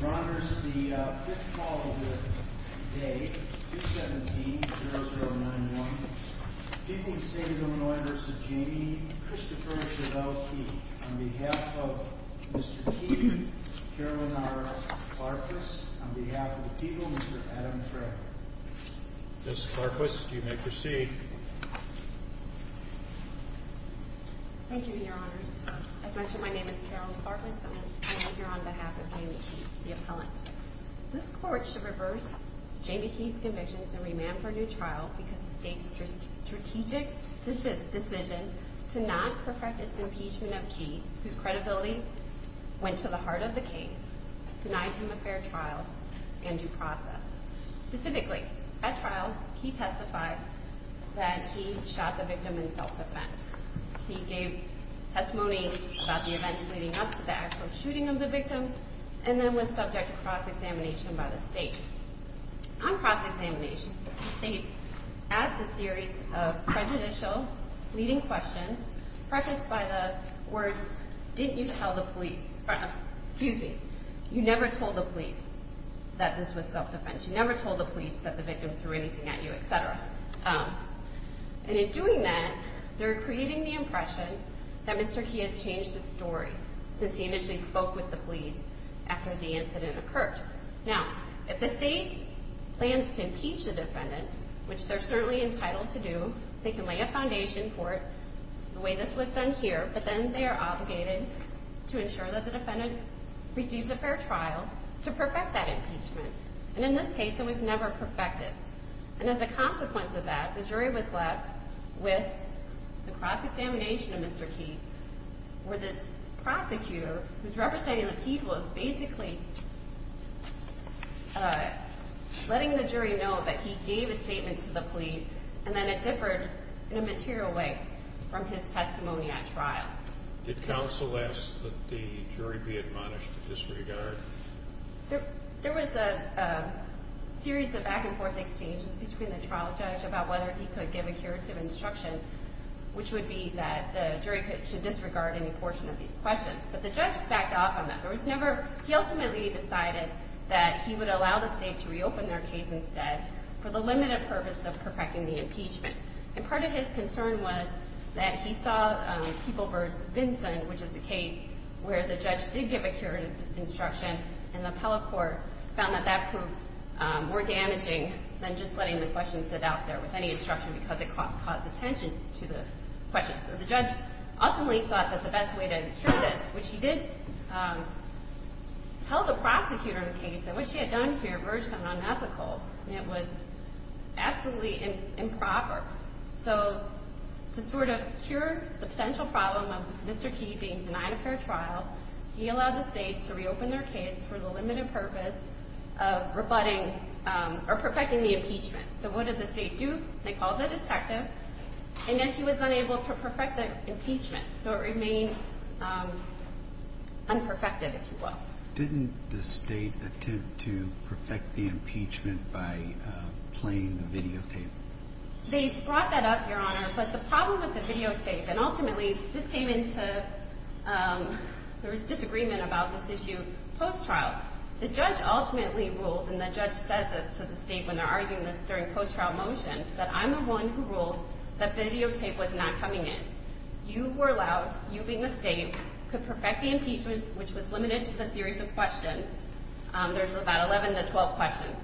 Your honors, the fifth call of the day, 217-0091, people of the state of Illinois v. Jamie, Christopher Chevelle Key, on behalf of Mr. Key, Carolyn R. Clarkless, on behalf of the people, Mr. Adam Craig. Ms. Clarkless, you may proceed. Thank you, your honors. As mentioned, my name is Carolyn Clarkless, and I am here on behalf of Jamie Key, the appellant. This court should reverse Jamie Key's convictions and remand for a new trial because the state's strategic decision to not perfect its impeachment of Key, whose credibility went to the heart of the case, denied him a fair trial and due process. Specifically, at trial, Key testified that Key shot the victim in self-defense. Key gave testimony about the events leading up to the actual shooting of the victim and then was subject to cross-examination by the state. On cross-examination, the state asked a series of prejudicial, leading questions, prefaced by the words, didn't you tell the police – excuse me, you never told the police that this was self-defense. You never told the police that the victim threw anything at you, etc. And in doing that, they're creating the impression that Mr. Key has changed his story since he initially spoke with the police after the incident occurred. Now, if the state plans to impeach the defendant, which they're certainly entitled to do, they can lay a foundation for it the way this was done here, but then they are obligated to ensure that the defendant receives a fair trial to perfect that impeachment. And in this case, it was never perfected. And as a consequence of that, the jury was left with the cross-examination of Mr. Key, where the prosecutor, who's representing the people, is basically letting the jury know that he gave a statement to the police, and then it differed in a material way from his testimony at trial. Did counsel ask that the jury be admonished to disregard? There was a series of back-and-forth exchanges between the trial judge about whether he could give a curative instruction, which would be that the jury should disregard any portion of these questions. But the judge backed off on that. There was never – he ultimately decided that he would allow the state to reopen their case instead for the limited purpose of perfecting the impeachment. And part of his concern was that he saw People v. Vinson, which is the case where the judge did give a curative instruction, and the appellate court found that that proved more damaging than just letting the question sit out there with any instruction because it caused attention to the question. So the judge ultimately thought that the best way to cure this, which he did tell the prosecutor of the case, and what she had done here verged on unethical, and it was absolutely improper. So to sort of cure the potential problem of Mr. Key being denied a fair trial, he allowed the state to reopen their case for the limited purpose of rebutting or perfecting the impeachment. So what did the state do? They called a detective, and yet he was unable to perfect the impeachment. So it remained unperfected, if you will. Didn't the state attempt to perfect the impeachment by playing the videotape? They brought that up, Your Honor, but the problem with the videotape – and ultimately, this came into – there was disagreement about this issue post-trial. The judge ultimately ruled, and the judge says this to the state when they're arguing this during post-trial motions, that I'm the one who ruled that videotape was not coming in. You who are allowed, you being the state, could perfect the impeachment, which was limited to the series of questions. There's about 11 to 12 questions.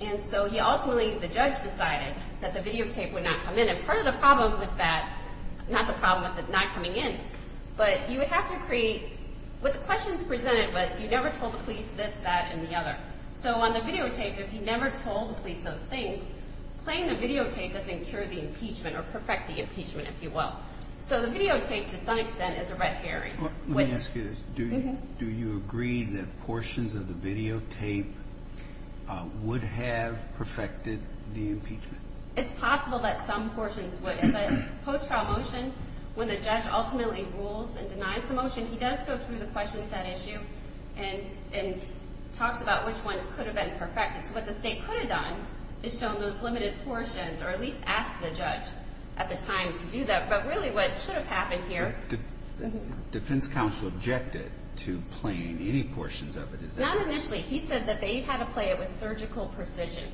And so he ultimately – the judge decided that the videotape would not come in, and part of the problem with that – not the problem with it not coming in, but you would have to create – what the questions presented was you never told the police this, that, and the other. So on the videotape, if you never told the police those things, playing the videotape doesn't cure the impeachment or perfect the impeachment, if you will. So the videotape, to some extent, is a red herring. Let me ask you this. Do you agree that portions of the videotape would have perfected the impeachment? It's possible that some portions would. But post-trial motion, when the judge ultimately rules and denies the motion, he does go through the question set issue and talks about which ones could have been perfected. So what the state could have done is shown those limited portions or at least asked the judge at the time to do that. But really what should have happened here – The defense counsel objected to playing any portions of it. Not initially. He said that they had to play it with surgical precision.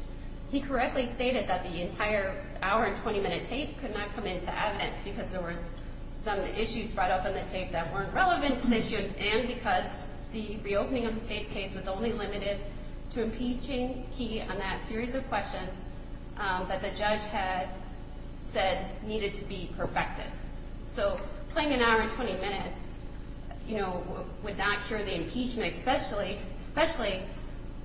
He correctly stated that the entire hour-and-20-minute tape could not come into evidence because there were some issues brought up in the tape that weren't relevant to the issue and because the reopening of the state case was only limited to impeaching key on that series of questions that the judge had said needed to be perfected. So playing an hour-and-20 minutes would not cure the impeachment, especially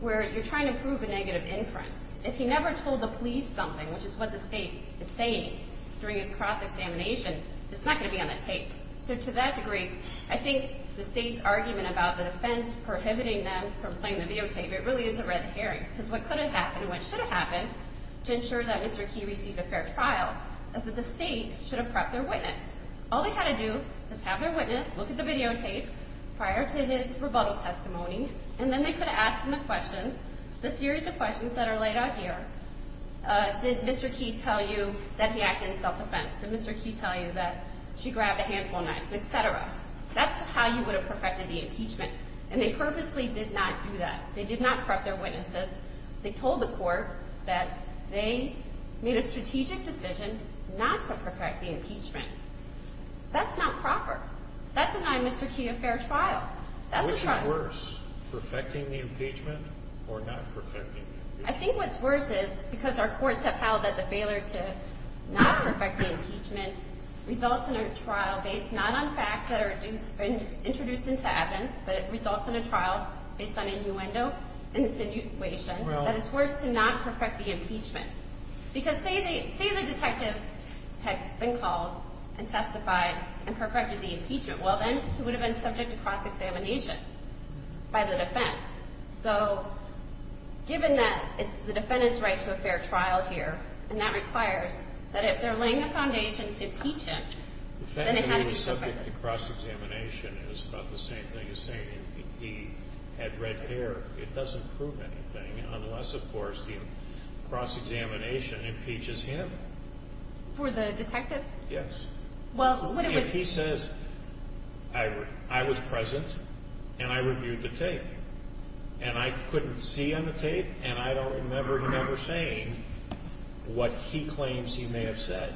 where you're trying to prove a negative inference. If he never told the police something, which is what the state is saying during his cross-examination, it's not going to be on the tape. So to that degree, I think the state's argument about the defense prohibiting them from playing the videotape, it really is a red herring. Because what could have happened and what should have happened to ensure that Mr. Key received a fair trial is that the state should have prepped their witness. All they had to do is have their witness look at the videotape prior to his rebuttal testimony, and then they could have asked him the questions – the series of questions that are laid out here. Did Mr. Key tell you that he acted in self-defense? Did Mr. Key tell you that she grabbed a handful of knives, etc.? That's how you would have perfected the impeachment. And they purposely did not do that. They did not prep their witnesses. They told the court that they made a strategic decision not to perfect the impeachment. That's not proper. That's denying Mr. Key a fair trial. That's a trial. Which is worse, perfecting the impeachment or not perfecting the impeachment? I think what's worse is, because our courts have held that the failure to not perfect the impeachment results in a trial based not on facts that are introduced into evidence, but it results in a trial based on innuendo and insinuation, that it's worse to not perfect the impeachment. Because say the detective had been called and testified and perfected the impeachment. Well, then he would have been subject to cross-examination by the defense. So, given that it's the defendant's right to a fair trial here, and that requires that if they're laying the foundation to impeach him, then it had to be perfected. The fact that he was subject to cross-examination is about the same thing as saying he had red hair. It doesn't prove anything unless, of course, the cross-examination impeaches him. For the detective? Yes. If he says, I was present and I reviewed the tape, and I couldn't see on the tape, and I don't remember him ever saying what he claims he may have said.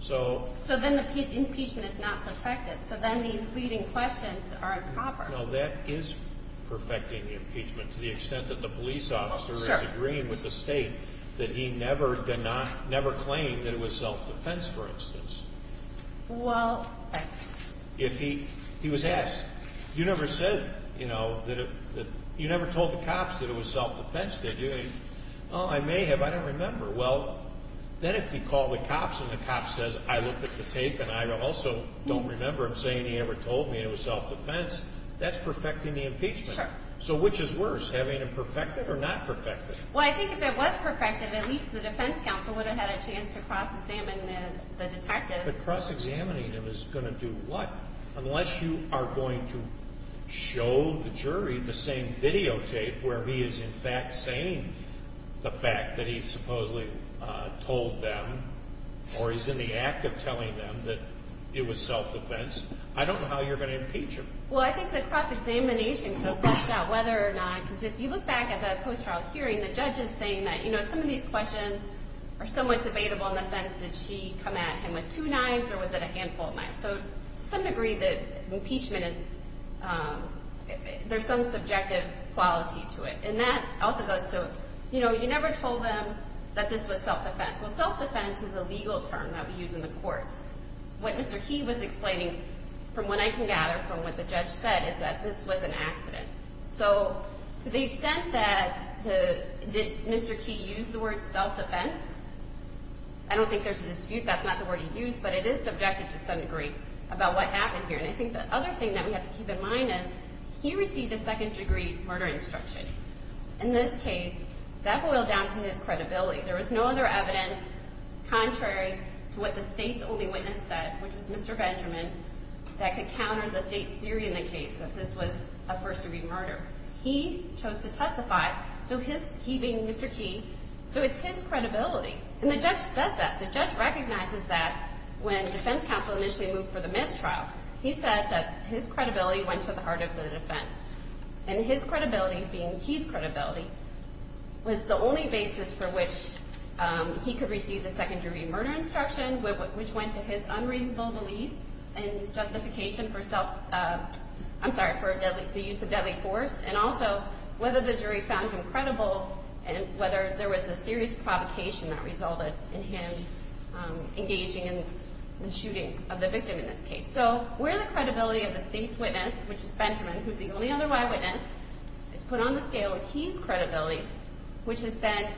So, then the impeachment is not perfected. So, then these leading questions are improper. No, that is perfecting the impeachment to the extent that the police officer is agreeing with the state that he never claimed that it was self-defense, for instance. Well, I… If he was asked, you never said, you know, you never told the cops that it was self-defense, did you? Oh, I may have. I don't remember. Well, then if he called the cops and the cop says, I looked at the tape and I also don't remember him saying he ever told me it was self-defense, that's perfecting the impeachment. Sure. So, which is worse, having it perfected or not perfected? Well, I think if it was perfected, at least the defense counsel would have had a chance to cross-examine the detective. But cross-examining him is going to do what? Unless you are going to show the jury the same videotape where he is, in fact, saying the fact that he supposedly told them or is in the act of telling them that it was self-defense, I don't know how you're going to impeach him. Well, I think the cross-examination could flesh out whether or not, because if you look back at the post-trial hearing, the judge is saying that, you know, some of these questions are somewhat debatable in the sense, did she come at him with two knives or was it a handful of knives? So, to some degree, the impeachment is, there's some subjective quality to it. And that also goes to, you know, you never told them that this was self-defense. Well, self-defense is a legal term that we use in the courts. What Mr. Key was explaining, from what I can gather from what the judge said, is that this was an accident. So, to the extent that the, did Mr. Key use the word self-defense? I don't think there's a dispute that's not the word he used, but it is subjective to some degree about what happened here. And I think the other thing that we have to keep in mind is he received a second-degree murder instruction. In this case, that boiled down to his credibility. There was no other evidence contrary to what the state's only witness said, which was Mr. Benjamin, that could counter the state's theory in the case that this was a first-degree murder. He chose to testify, so his, he being Mr. Key, so it's his credibility. And the judge says that. The judge recognizes that when defense counsel initially moved for the missed trial. He said that his credibility went to the heart of the defense. And his credibility, being Key's credibility, was the only basis for which he could receive the second-degree murder instruction, which went to his unreasonable belief in justification for self, I'm sorry, for the use of deadly force. And also, whether the jury found him credible, and whether there was a serious provocation that resulted in him engaging in the shooting of the victim in this case. So where the credibility of the state's witness, which is Benjamin, who's the only other eyewitness, is put on the scale with Key's credibility, which is then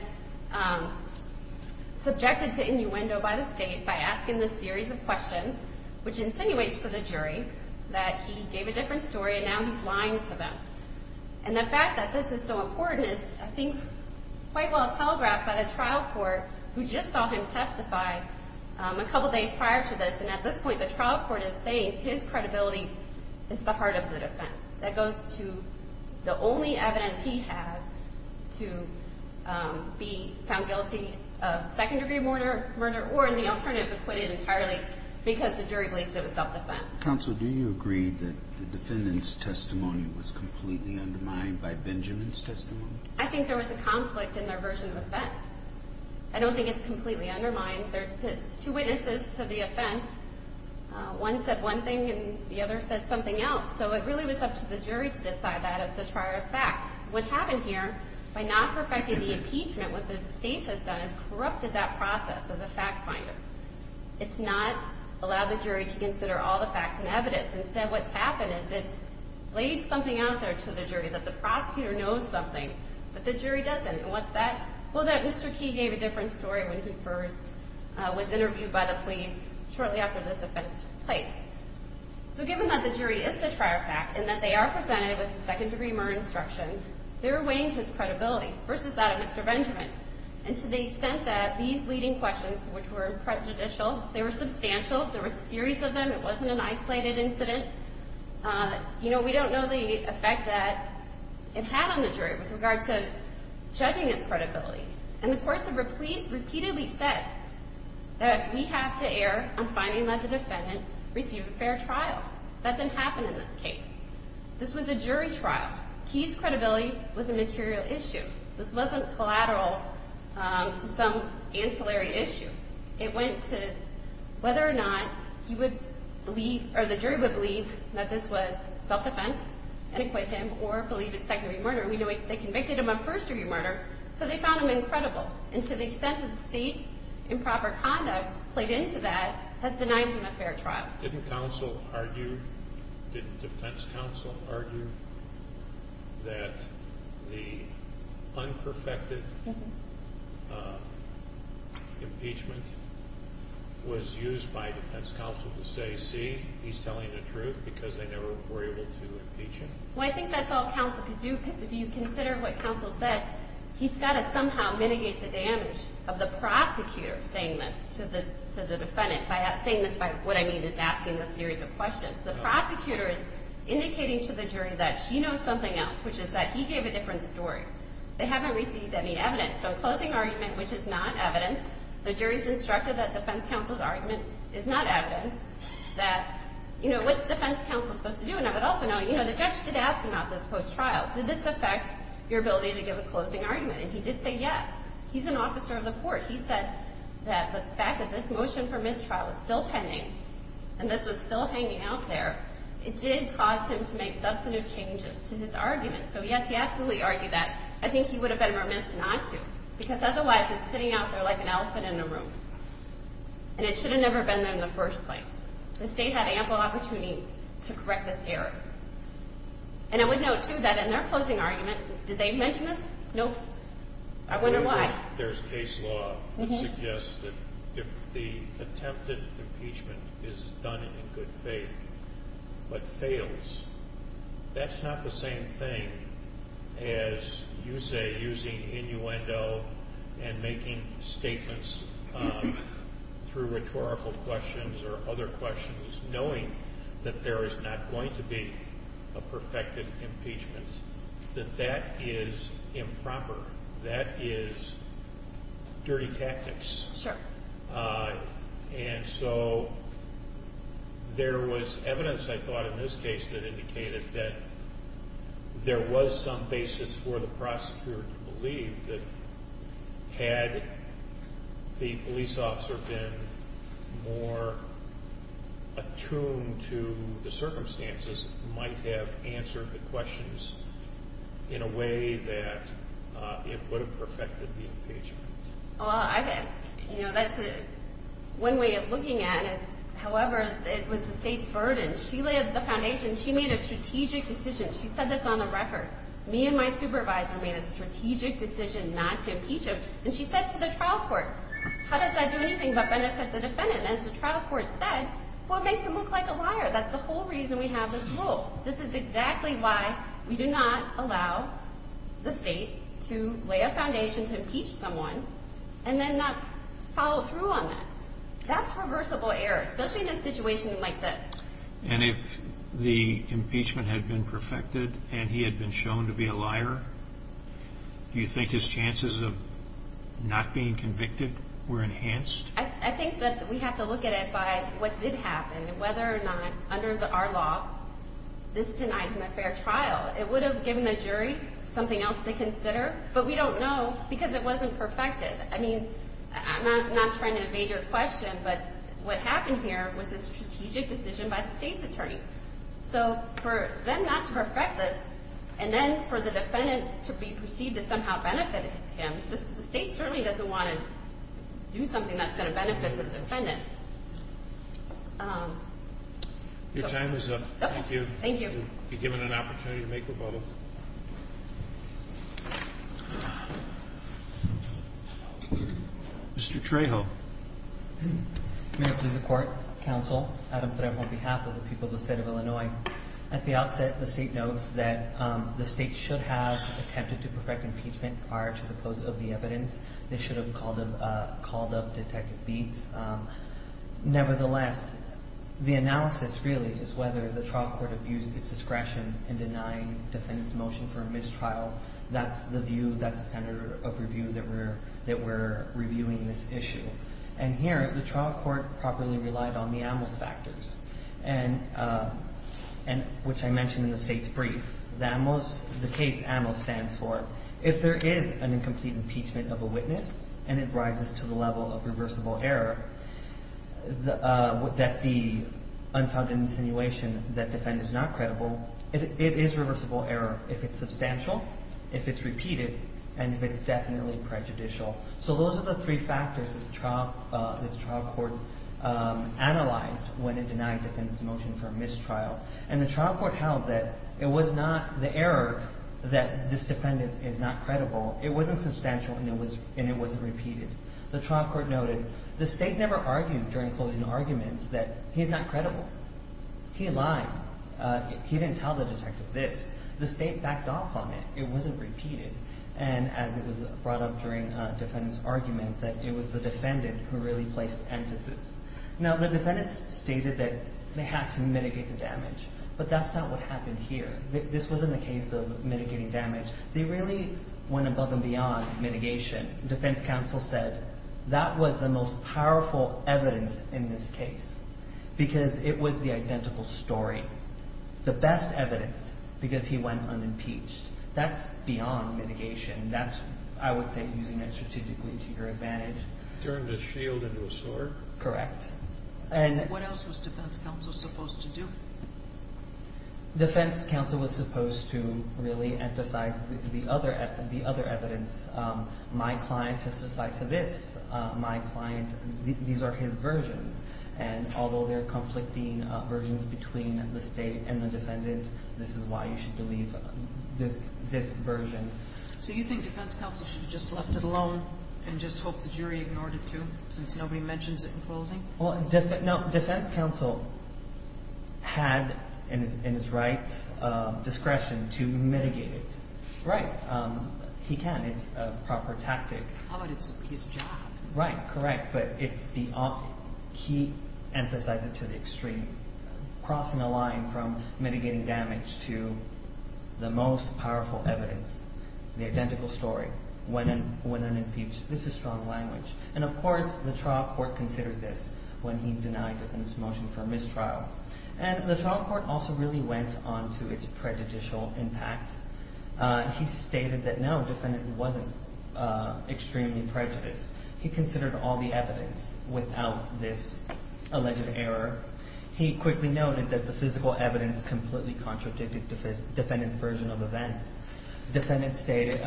subjected to innuendo by the state by asking this series of questions, which insinuates to the jury that he gave a different story and now he's lying to them. And the fact that this is so important is, I think, quite well telegraphed by the trial court, who just saw him testify a couple days prior to this. And at this point, the trial court is saying his credibility is the heart of the defense. That goes to the only evidence he has to be found guilty of second-degree murder, or in the alternative, acquitted entirely because the jury believes it was self-defense. Counsel, do you agree that the defendant's testimony was completely undermined by Benjamin's testimony? I think there was a conflict in their version of offense. I don't think it's completely undermined. There's two witnesses to the offense. One said one thing and the other said something else. So it really was up to the jury to decide that as the trier of fact. What happened here, by not perfecting the impeachment, what the state has done is corrupted that process of the fact finder. It's not allowed the jury to consider all the facts and evidence. Instead, what's happened is it's laid something out there to the jury that the prosecutor knows something, but the jury doesn't. And what's that? Well, that Mr. Key gave a different story when he first was interviewed by the police shortly after this offense took place. So given that the jury is the trier of fact and that they are presented with second-degree murder instruction, they're weighing his credibility versus that of Mr. Benjamin. And to the extent that these leading questions, which were prejudicial, they were substantial, there were a series of them, it wasn't an isolated incident, you know, we don't know the effect that it had on the jury with regard to judging his credibility. And the courts have repeatedly said that we have to err on finding that the defendant received a fair trial. That didn't happen in this case. This was a jury trial. Key's credibility was a material issue. This wasn't collateral to some ancillary issue. It went to whether or not he would believe or the jury would believe that this was self-defense and acquit him or believe it's second-degree murder. We know they convicted him of first-degree murder, so they found him incredible. And to the extent that the state's improper conduct played into that has denied him a fair trial. Didn't counsel argue, didn't defense counsel argue that the unperfected impeachment was used by defense counsel to say, see, he's telling the truth because they never were able to impeach him? Well, I think that's all counsel could do because if you consider what counsel said, he's got to somehow mitigate the damage of the prosecutor saying this to the defendant, saying this by what I mean is asking a series of questions. The prosecutor is indicating to the jury that she knows something else, which is that he gave a different story. They haven't received any evidence. So a closing argument, which is not evidence, the jury's instructed that defense counsel's argument is not evidence, that, you know, what's defense counsel supposed to do? And I would also note, you know, the judge did ask him about this post-trial. Did this affect your ability to give a closing argument? And he did say yes. He's an officer of the court. He said that the fact that this motion for mistrial was still pending and this was still hanging out there, it did cause him to make substantive changes to his argument. So, yes, he absolutely argued that. I think he would have been remiss not to because otherwise it's sitting out there like an elephant in a room. And it should have never been there in the first place. The state had ample opportunity to correct this error. And I would note, too, that in their closing argument, did they mention this? Nope. I wonder why. There's case law that suggests that if the attempted impeachment is done in good faith but fails, that's not the same thing as, you say, using innuendo and making statements through rhetorical questions or other questions knowing that there is not going to be a perfected impeachment, that that is improper. That is dirty tactics. Sure. And so there was evidence, I thought, in this case that indicated that there was some basis for the prosecutor to believe that had the police officer been more attuned to the circumstances, might have answered the questions in a way that it would have perfected the impeachment. Well, that's one way of looking at it. However, it was the state's burden. She laid the foundation. She made a strategic decision. She said this on the record. Me and my supervisor made a strategic decision not to impeach him. And she said to the trial court, how does that do anything but benefit the defendant? And as the trial court said, well, it makes him look like a liar. That's the whole reason we have this rule. This is exactly why we do not allow the state to lay a foundation to impeach someone and then not follow through on that. That's reversible error, especially in a situation like this. And if the impeachment had been perfected and he had been shown to be a liar, do you think his chances of not being convicted were enhanced? I think that we have to look at it by what did happen and whether or not under our law this denied him a fair trial. It would have given the jury something else to consider, but we don't know because it wasn't perfected. I mean, I'm not trying to evade your question, but what happened here was a strategic decision by the state's attorney. So for them not to perfect this and then for the defendant to be perceived to somehow benefit him, the state certainly doesn't want to do something that's going to benefit the defendant. Your time is up. Thank you. Thank you. You've been given an opportunity to make rebuttals. Mr. Trejo. May it please the Court, Counsel, Adam Trejo on behalf of the people of the state of Illinois, at the outset the state notes that the state should have attempted to perfect impeachment prior to the post of the evidence. They should have called up Detective Beetz. Nevertheless, the analysis really is whether the trial court abused its discretion in denying the defendant's motion for a mistrial. That's the view, that's the center of review that we're reviewing this issue. And here, the trial court properly relied on the AMOS factors, which I mentioned in the state's brief. The case AMOS stands for if there is an incomplete impeachment of a witness and it rises to the level of reversible error, that the unfounded insinuation that the defendant is not credible, it is reversible error if it's substantial, if it's repeated, and if it's definitely prejudicial. So those are the three factors that the trial court analyzed when it denied the defendant's motion for a mistrial. And the trial court held that it was not the error that this defendant is not credible, it wasn't substantial, and it wasn't repeated. The trial court noted the state never argued during closing arguments that he's not credible. He lied. He didn't tell the detective this. The state backed off on it. It wasn't repeated. And as it was brought up during a defendant's argument, that it was the defendant who really placed emphasis. Now, the defendants stated that they had to mitigate the damage, but that's not what happened here. This wasn't a case of mitigating damage. They really went above and beyond mitigation. Defense counsel said that was the most powerful evidence in this case because it was the identical story. The best evidence because he went unimpeached. That's beyond mitigation. That's, I would say, using that strategically to your advantage. Turned a shield into a sword? Correct. What else was defense counsel supposed to do? Defense counsel was supposed to really emphasize the other evidence. My client testified to this. These are his versions. And although they're conflicting versions between the state and the defendant, this is why you should believe this version. So you think defense counsel should have just left it alone and just hope the jury ignored it, too, since nobody mentions it in closing? No, defense counsel had in his rights discretion to mitigate it. Right. He can. It's a proper tactic. But it's his job. Right. Correct. But he emphasized it to the extreme, crossing a line from mitigating damage to the most powerful evidence, the identical story, when unimpeached. This is strong language. And, of course, the trial court considered this when he denied defendant's motion for mistrial. And the trial court also really went on to its prejudicial impact. He stated that, no, defendant wasn't extremely prejudiced. He considered all the evidence without this alleged error. He quickly noted that the physical evidence completely contradicted defendant's version of events. Defendant stated,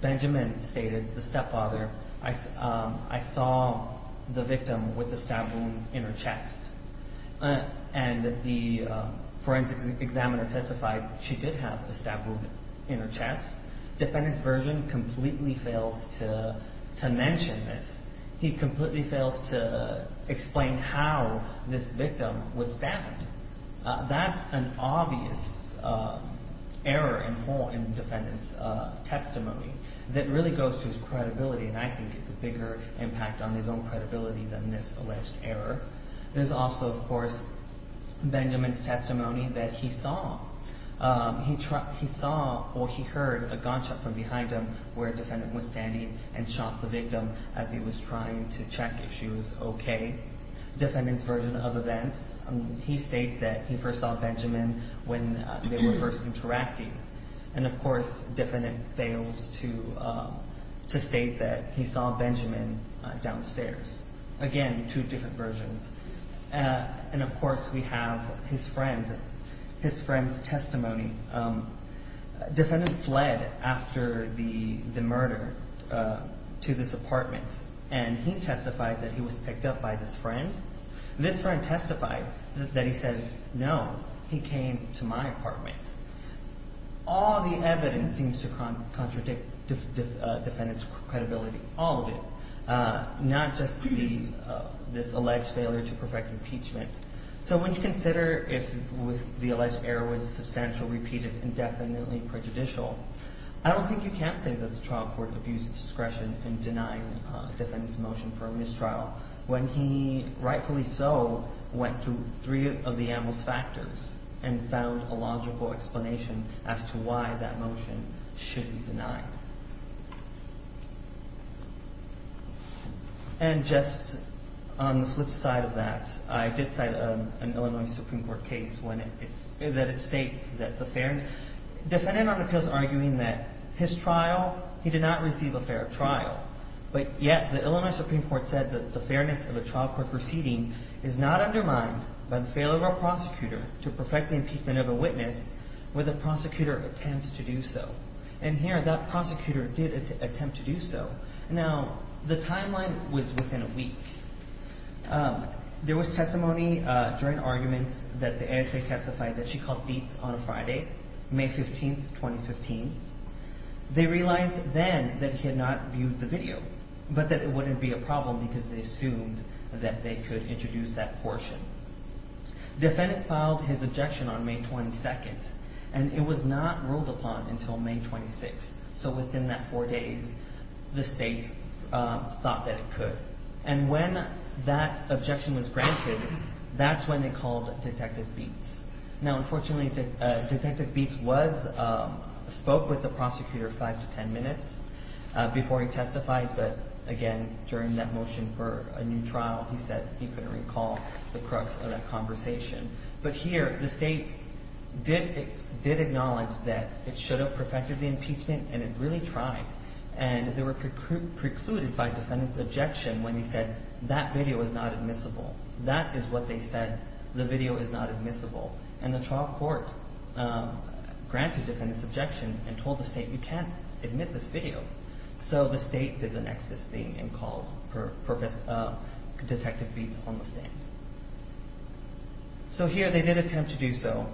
Benjamin stated, the stepfather, I saw the victim with the stab wound in her chest. And the forensic examiner testified she did have the stab wound in her chest. Defendant's version completely fails to mention this. He completely fails to explain how this victim was stabbed. That's an obvious error in defendant's testimony that really goes to his credibility. And I think it's a bigger impact on his own credibility than this alleged error. There's also, of course, Benjamin's testimony that he saw or he heard a gunshot from behind him where defendant was standing and shot the victim as he was trying to check if she was okay. Defendant's version of events, he states that he first saw Benjamin when they were first interacting. And, of course, defendant fails to state that he saw Benjamin downstairs. Again, two different versions. And, of course, we have his friend, his friend's testimony. Defendant fled after the murder to this apartment, and he testified that he was picked up by this friend. This friend testified that he says, no, he came to my apartment. All the evidence seems to contradict defendant's credibility, all of it, not just this alleged failure to perfect impeachment. So when you consider if the alleged error was substantial, repeated, indefinitely prejudicial, I don't think you can't say that the trial court abused discretion in denying defendant's motion for a mistrial when he, rightfully so, went through three of the animal's factors and found a logical explanation as to why that motion should be denied. And just on the flip side of that, I did cite an Illinois Supreme Court case when it states that the fair – defendant on appeal is arguing that his trial, he did not receive a fair trial. But yet the Illinois Supreme Court said that the fairness of a trial court proceeding is not undermined by the failure of a prosecutor to perfect the impeachment of a witness where the prosecutor attempts to do so. And here that prosecutor did attempt to do so. Now, the timeline was within a week. There was testimony during arguments that the ASA testified that she called beats on a Friday, May 15, 2015. They realized then that he had not viewed the video, but that it wouldn't be a problem because they assumed that they could introduce that portion. Defendant filed his objection on May 22, and it was not ruled upon until May 26. So within that four days, the state thought that it could. And when that objection was granted, that's when they called Detective Beets. Now, unfortunately, Detective Beets was – spoke with the prosecutor five to ten minutes before he testified. But again, during that motion for a new trial, he said he couldn't recall the crux of that conversation. But here the state did acknowledge that it should have perfected the impeachment, and it really tried. And they were precluded by defendant's objection when he said that video is not admissible. That is what they said, the video is not admissible. And the trial court granted defendant's objection and told the state, you can't admit this video. So the state did the next best thing and called Detective Beets on the stand. So here they did attempt to do so,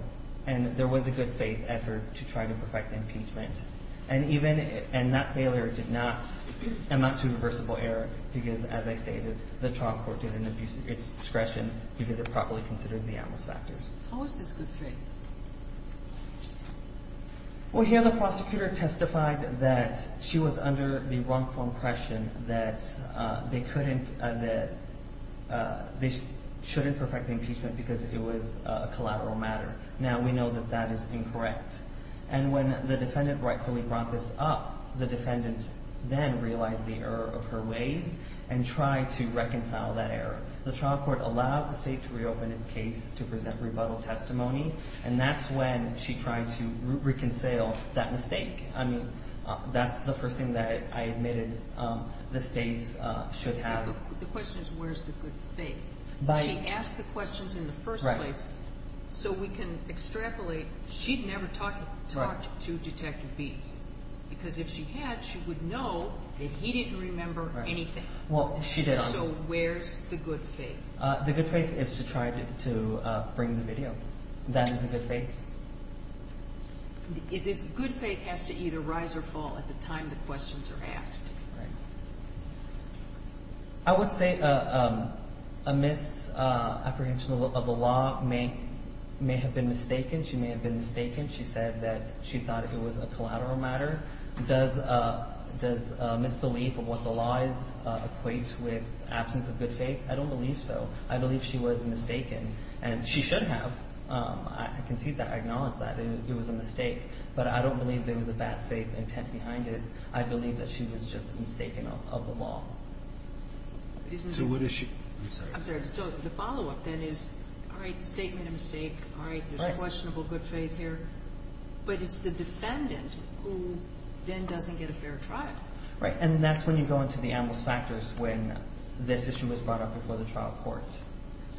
and there was a good faith effort to try to perfect the impeachment. And even – and that failure did not amount to reversible error because, as I stated, the trial court did an abuse of its discretion because it properly considered the adverse factors. How was this good faith? Well, here the prosecutor testified that she was under the wrongful impression that they couldn't – that they shouldn't perfect the impeachment because it was a collateral matter. Now we know that that is incorrect. And when the defendant rightfully brought this up, the defendant then realized the error of her ways and tried to reconcile that error. The trial court allowed the state to reopen its case to present rebuttal testimony, and that's when she tried to reconcile that mistake. I mean, that's the first thing that I admitted the state should have. The question is where's the good faith. She asked the questions in the first place so we can extrapolate. She'd never talked to Detective Beets because if she had, she would know that he didn't remember anything. Well, she did. So where's the good faith? The good faith is to try to bring the video. That is the good faith. The good faith has to either rise or fall at the time the questions are asked. I would say a misapprehension of the law may have been mistaken. She may have been mistaken. She said that she thought it was a collateral matter. Does a misbelief of what the law is equate with absence of good faith? I don't believe so. I believe she was mistaken, and she should have. I can see that. I acknowledge that. It was a mistake. But I don't believe there was a bad faith intent behind it. I believe that she was just mistaken of the law. So what is she? I'm sorry. So the follow-up then is, all right, statement of mistake. All right, there's a questionable good faith here. But it's the defendant who then doesn't get a fair trial. Right, and that's when you go into the analyst factors when this issue was brought up before the trial court.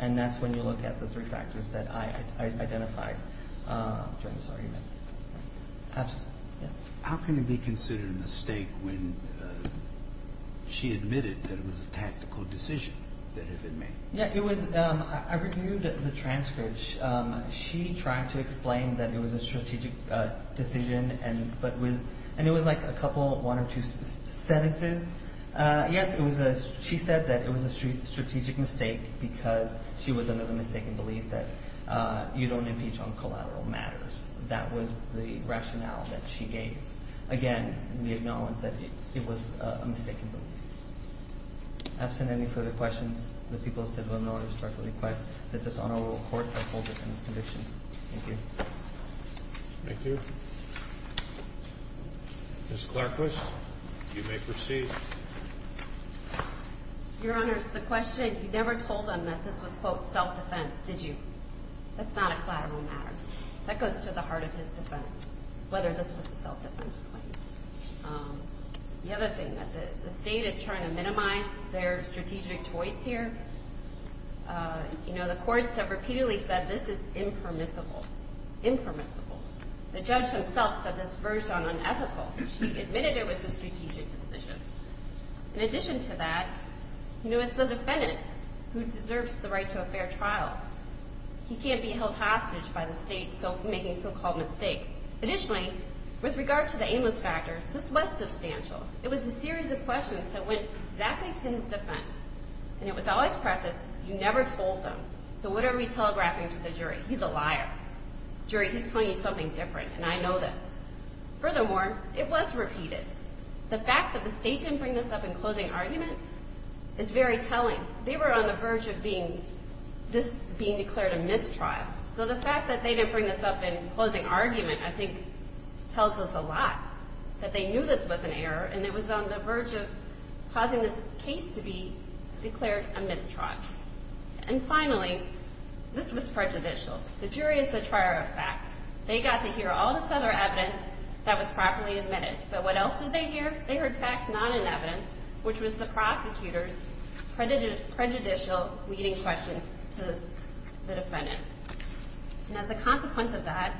And that's when you look at the three factors that I identified during this argument. Absolutely. How can it be considered a mistake when she admitted that it was a tactical decision that had been made? Yeah, it was. I reviewed the transcript. She tried to explain that it was a strategic decision, and it was like a couple, one or two sentences. Yes, she said that it was a strategic mistake because she was under the mistaken belief that you don't impeach on collateral matters. That was the rationale that she gave. Again, we acknowledge that it was a mistaken belief. Absent any further questions, the people's civil and law enforcement request that this Honorable Court uphold the defendant's convictions. Thank you. Thank you. Ms. Clarkquist, you may proceed. Your Honors, the question, you never told them that this was, quote, self-defense, did you? That's not a collateral matter. That goes to the heart of his defense, whether this was a self-defense claim. The other thing, the State is trying to minimize their strategic choice here. You know, the courts have repeatedly said this is impermissible, impermissible. The judge himself said this verged on unethical. She admitted it was a strategic decision. In addition to that, you know, it's the defendant who deserves the right to a fair trial. He can't be held hostage by the State making so-called mistakes. Additionally, with regard to the aimless factors, this was substantial. It was a series of questions that went exactly to his defense. And it was always prefaced, you never told them. So what are we telegraphing to the jury? He's a liar. Jury, he's telling you something different, and I know this. Furthermore, it was repeated. The fact that the State didn't bring this up in closing argument is very telling. They were on the verge of this being declared a mistrial. So the fact that they didn't bring this up in closing argument, I think, tells us a lot. That they knew this was an error, and it was on the verge of causing this case to be declared a mistrial. And finally, this was prejudicial. The jury is the trier of fact. They got to hear all this other evidence that was properly admitted. But what else did they hear? They heard facts not in evidence, which was the prosecutor's prejudicial leading questions to the defendant. And as a consequence of that,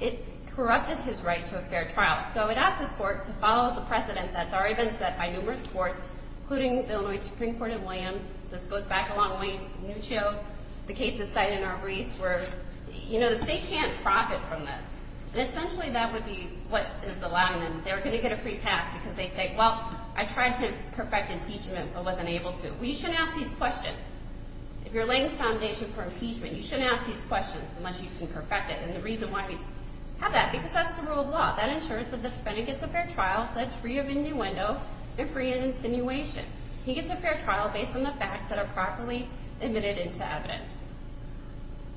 it corrupted his right to a fair trial. So it asked his court to follow the precedent that's already been set by numerous courts, including the Illinois Supreme Court in Williams. This goes back along Wayne Nuccio. The cases cited in Arbreece were, you know, the State can't profit from this. Essentially, that would be what is the Latin. They were going to get a free pass because they say, well, I tried to perfect impeachment but wasn't able to. Well, you shouldn't ask these questions. If you're laying the foundation for impeachment, you shouldn't ask these questions unless you can perfect it. And the reason why we have that is because that's the rule of law. That ensures that the defendant gets a fair trial that's free of innuendo and free of insinuation. He gets a fair trial based on the facts that are properly admitted into evidence.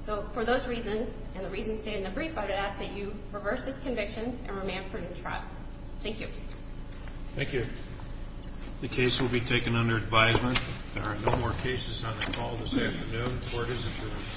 So for those reasons and the reasons stated in the brief, I would ask that you reverse this conviction and remand for a new trial. Thank you. Thank you. The case will be taken under advisement. There are no more cases on the call this afternoon. Court is adjourned.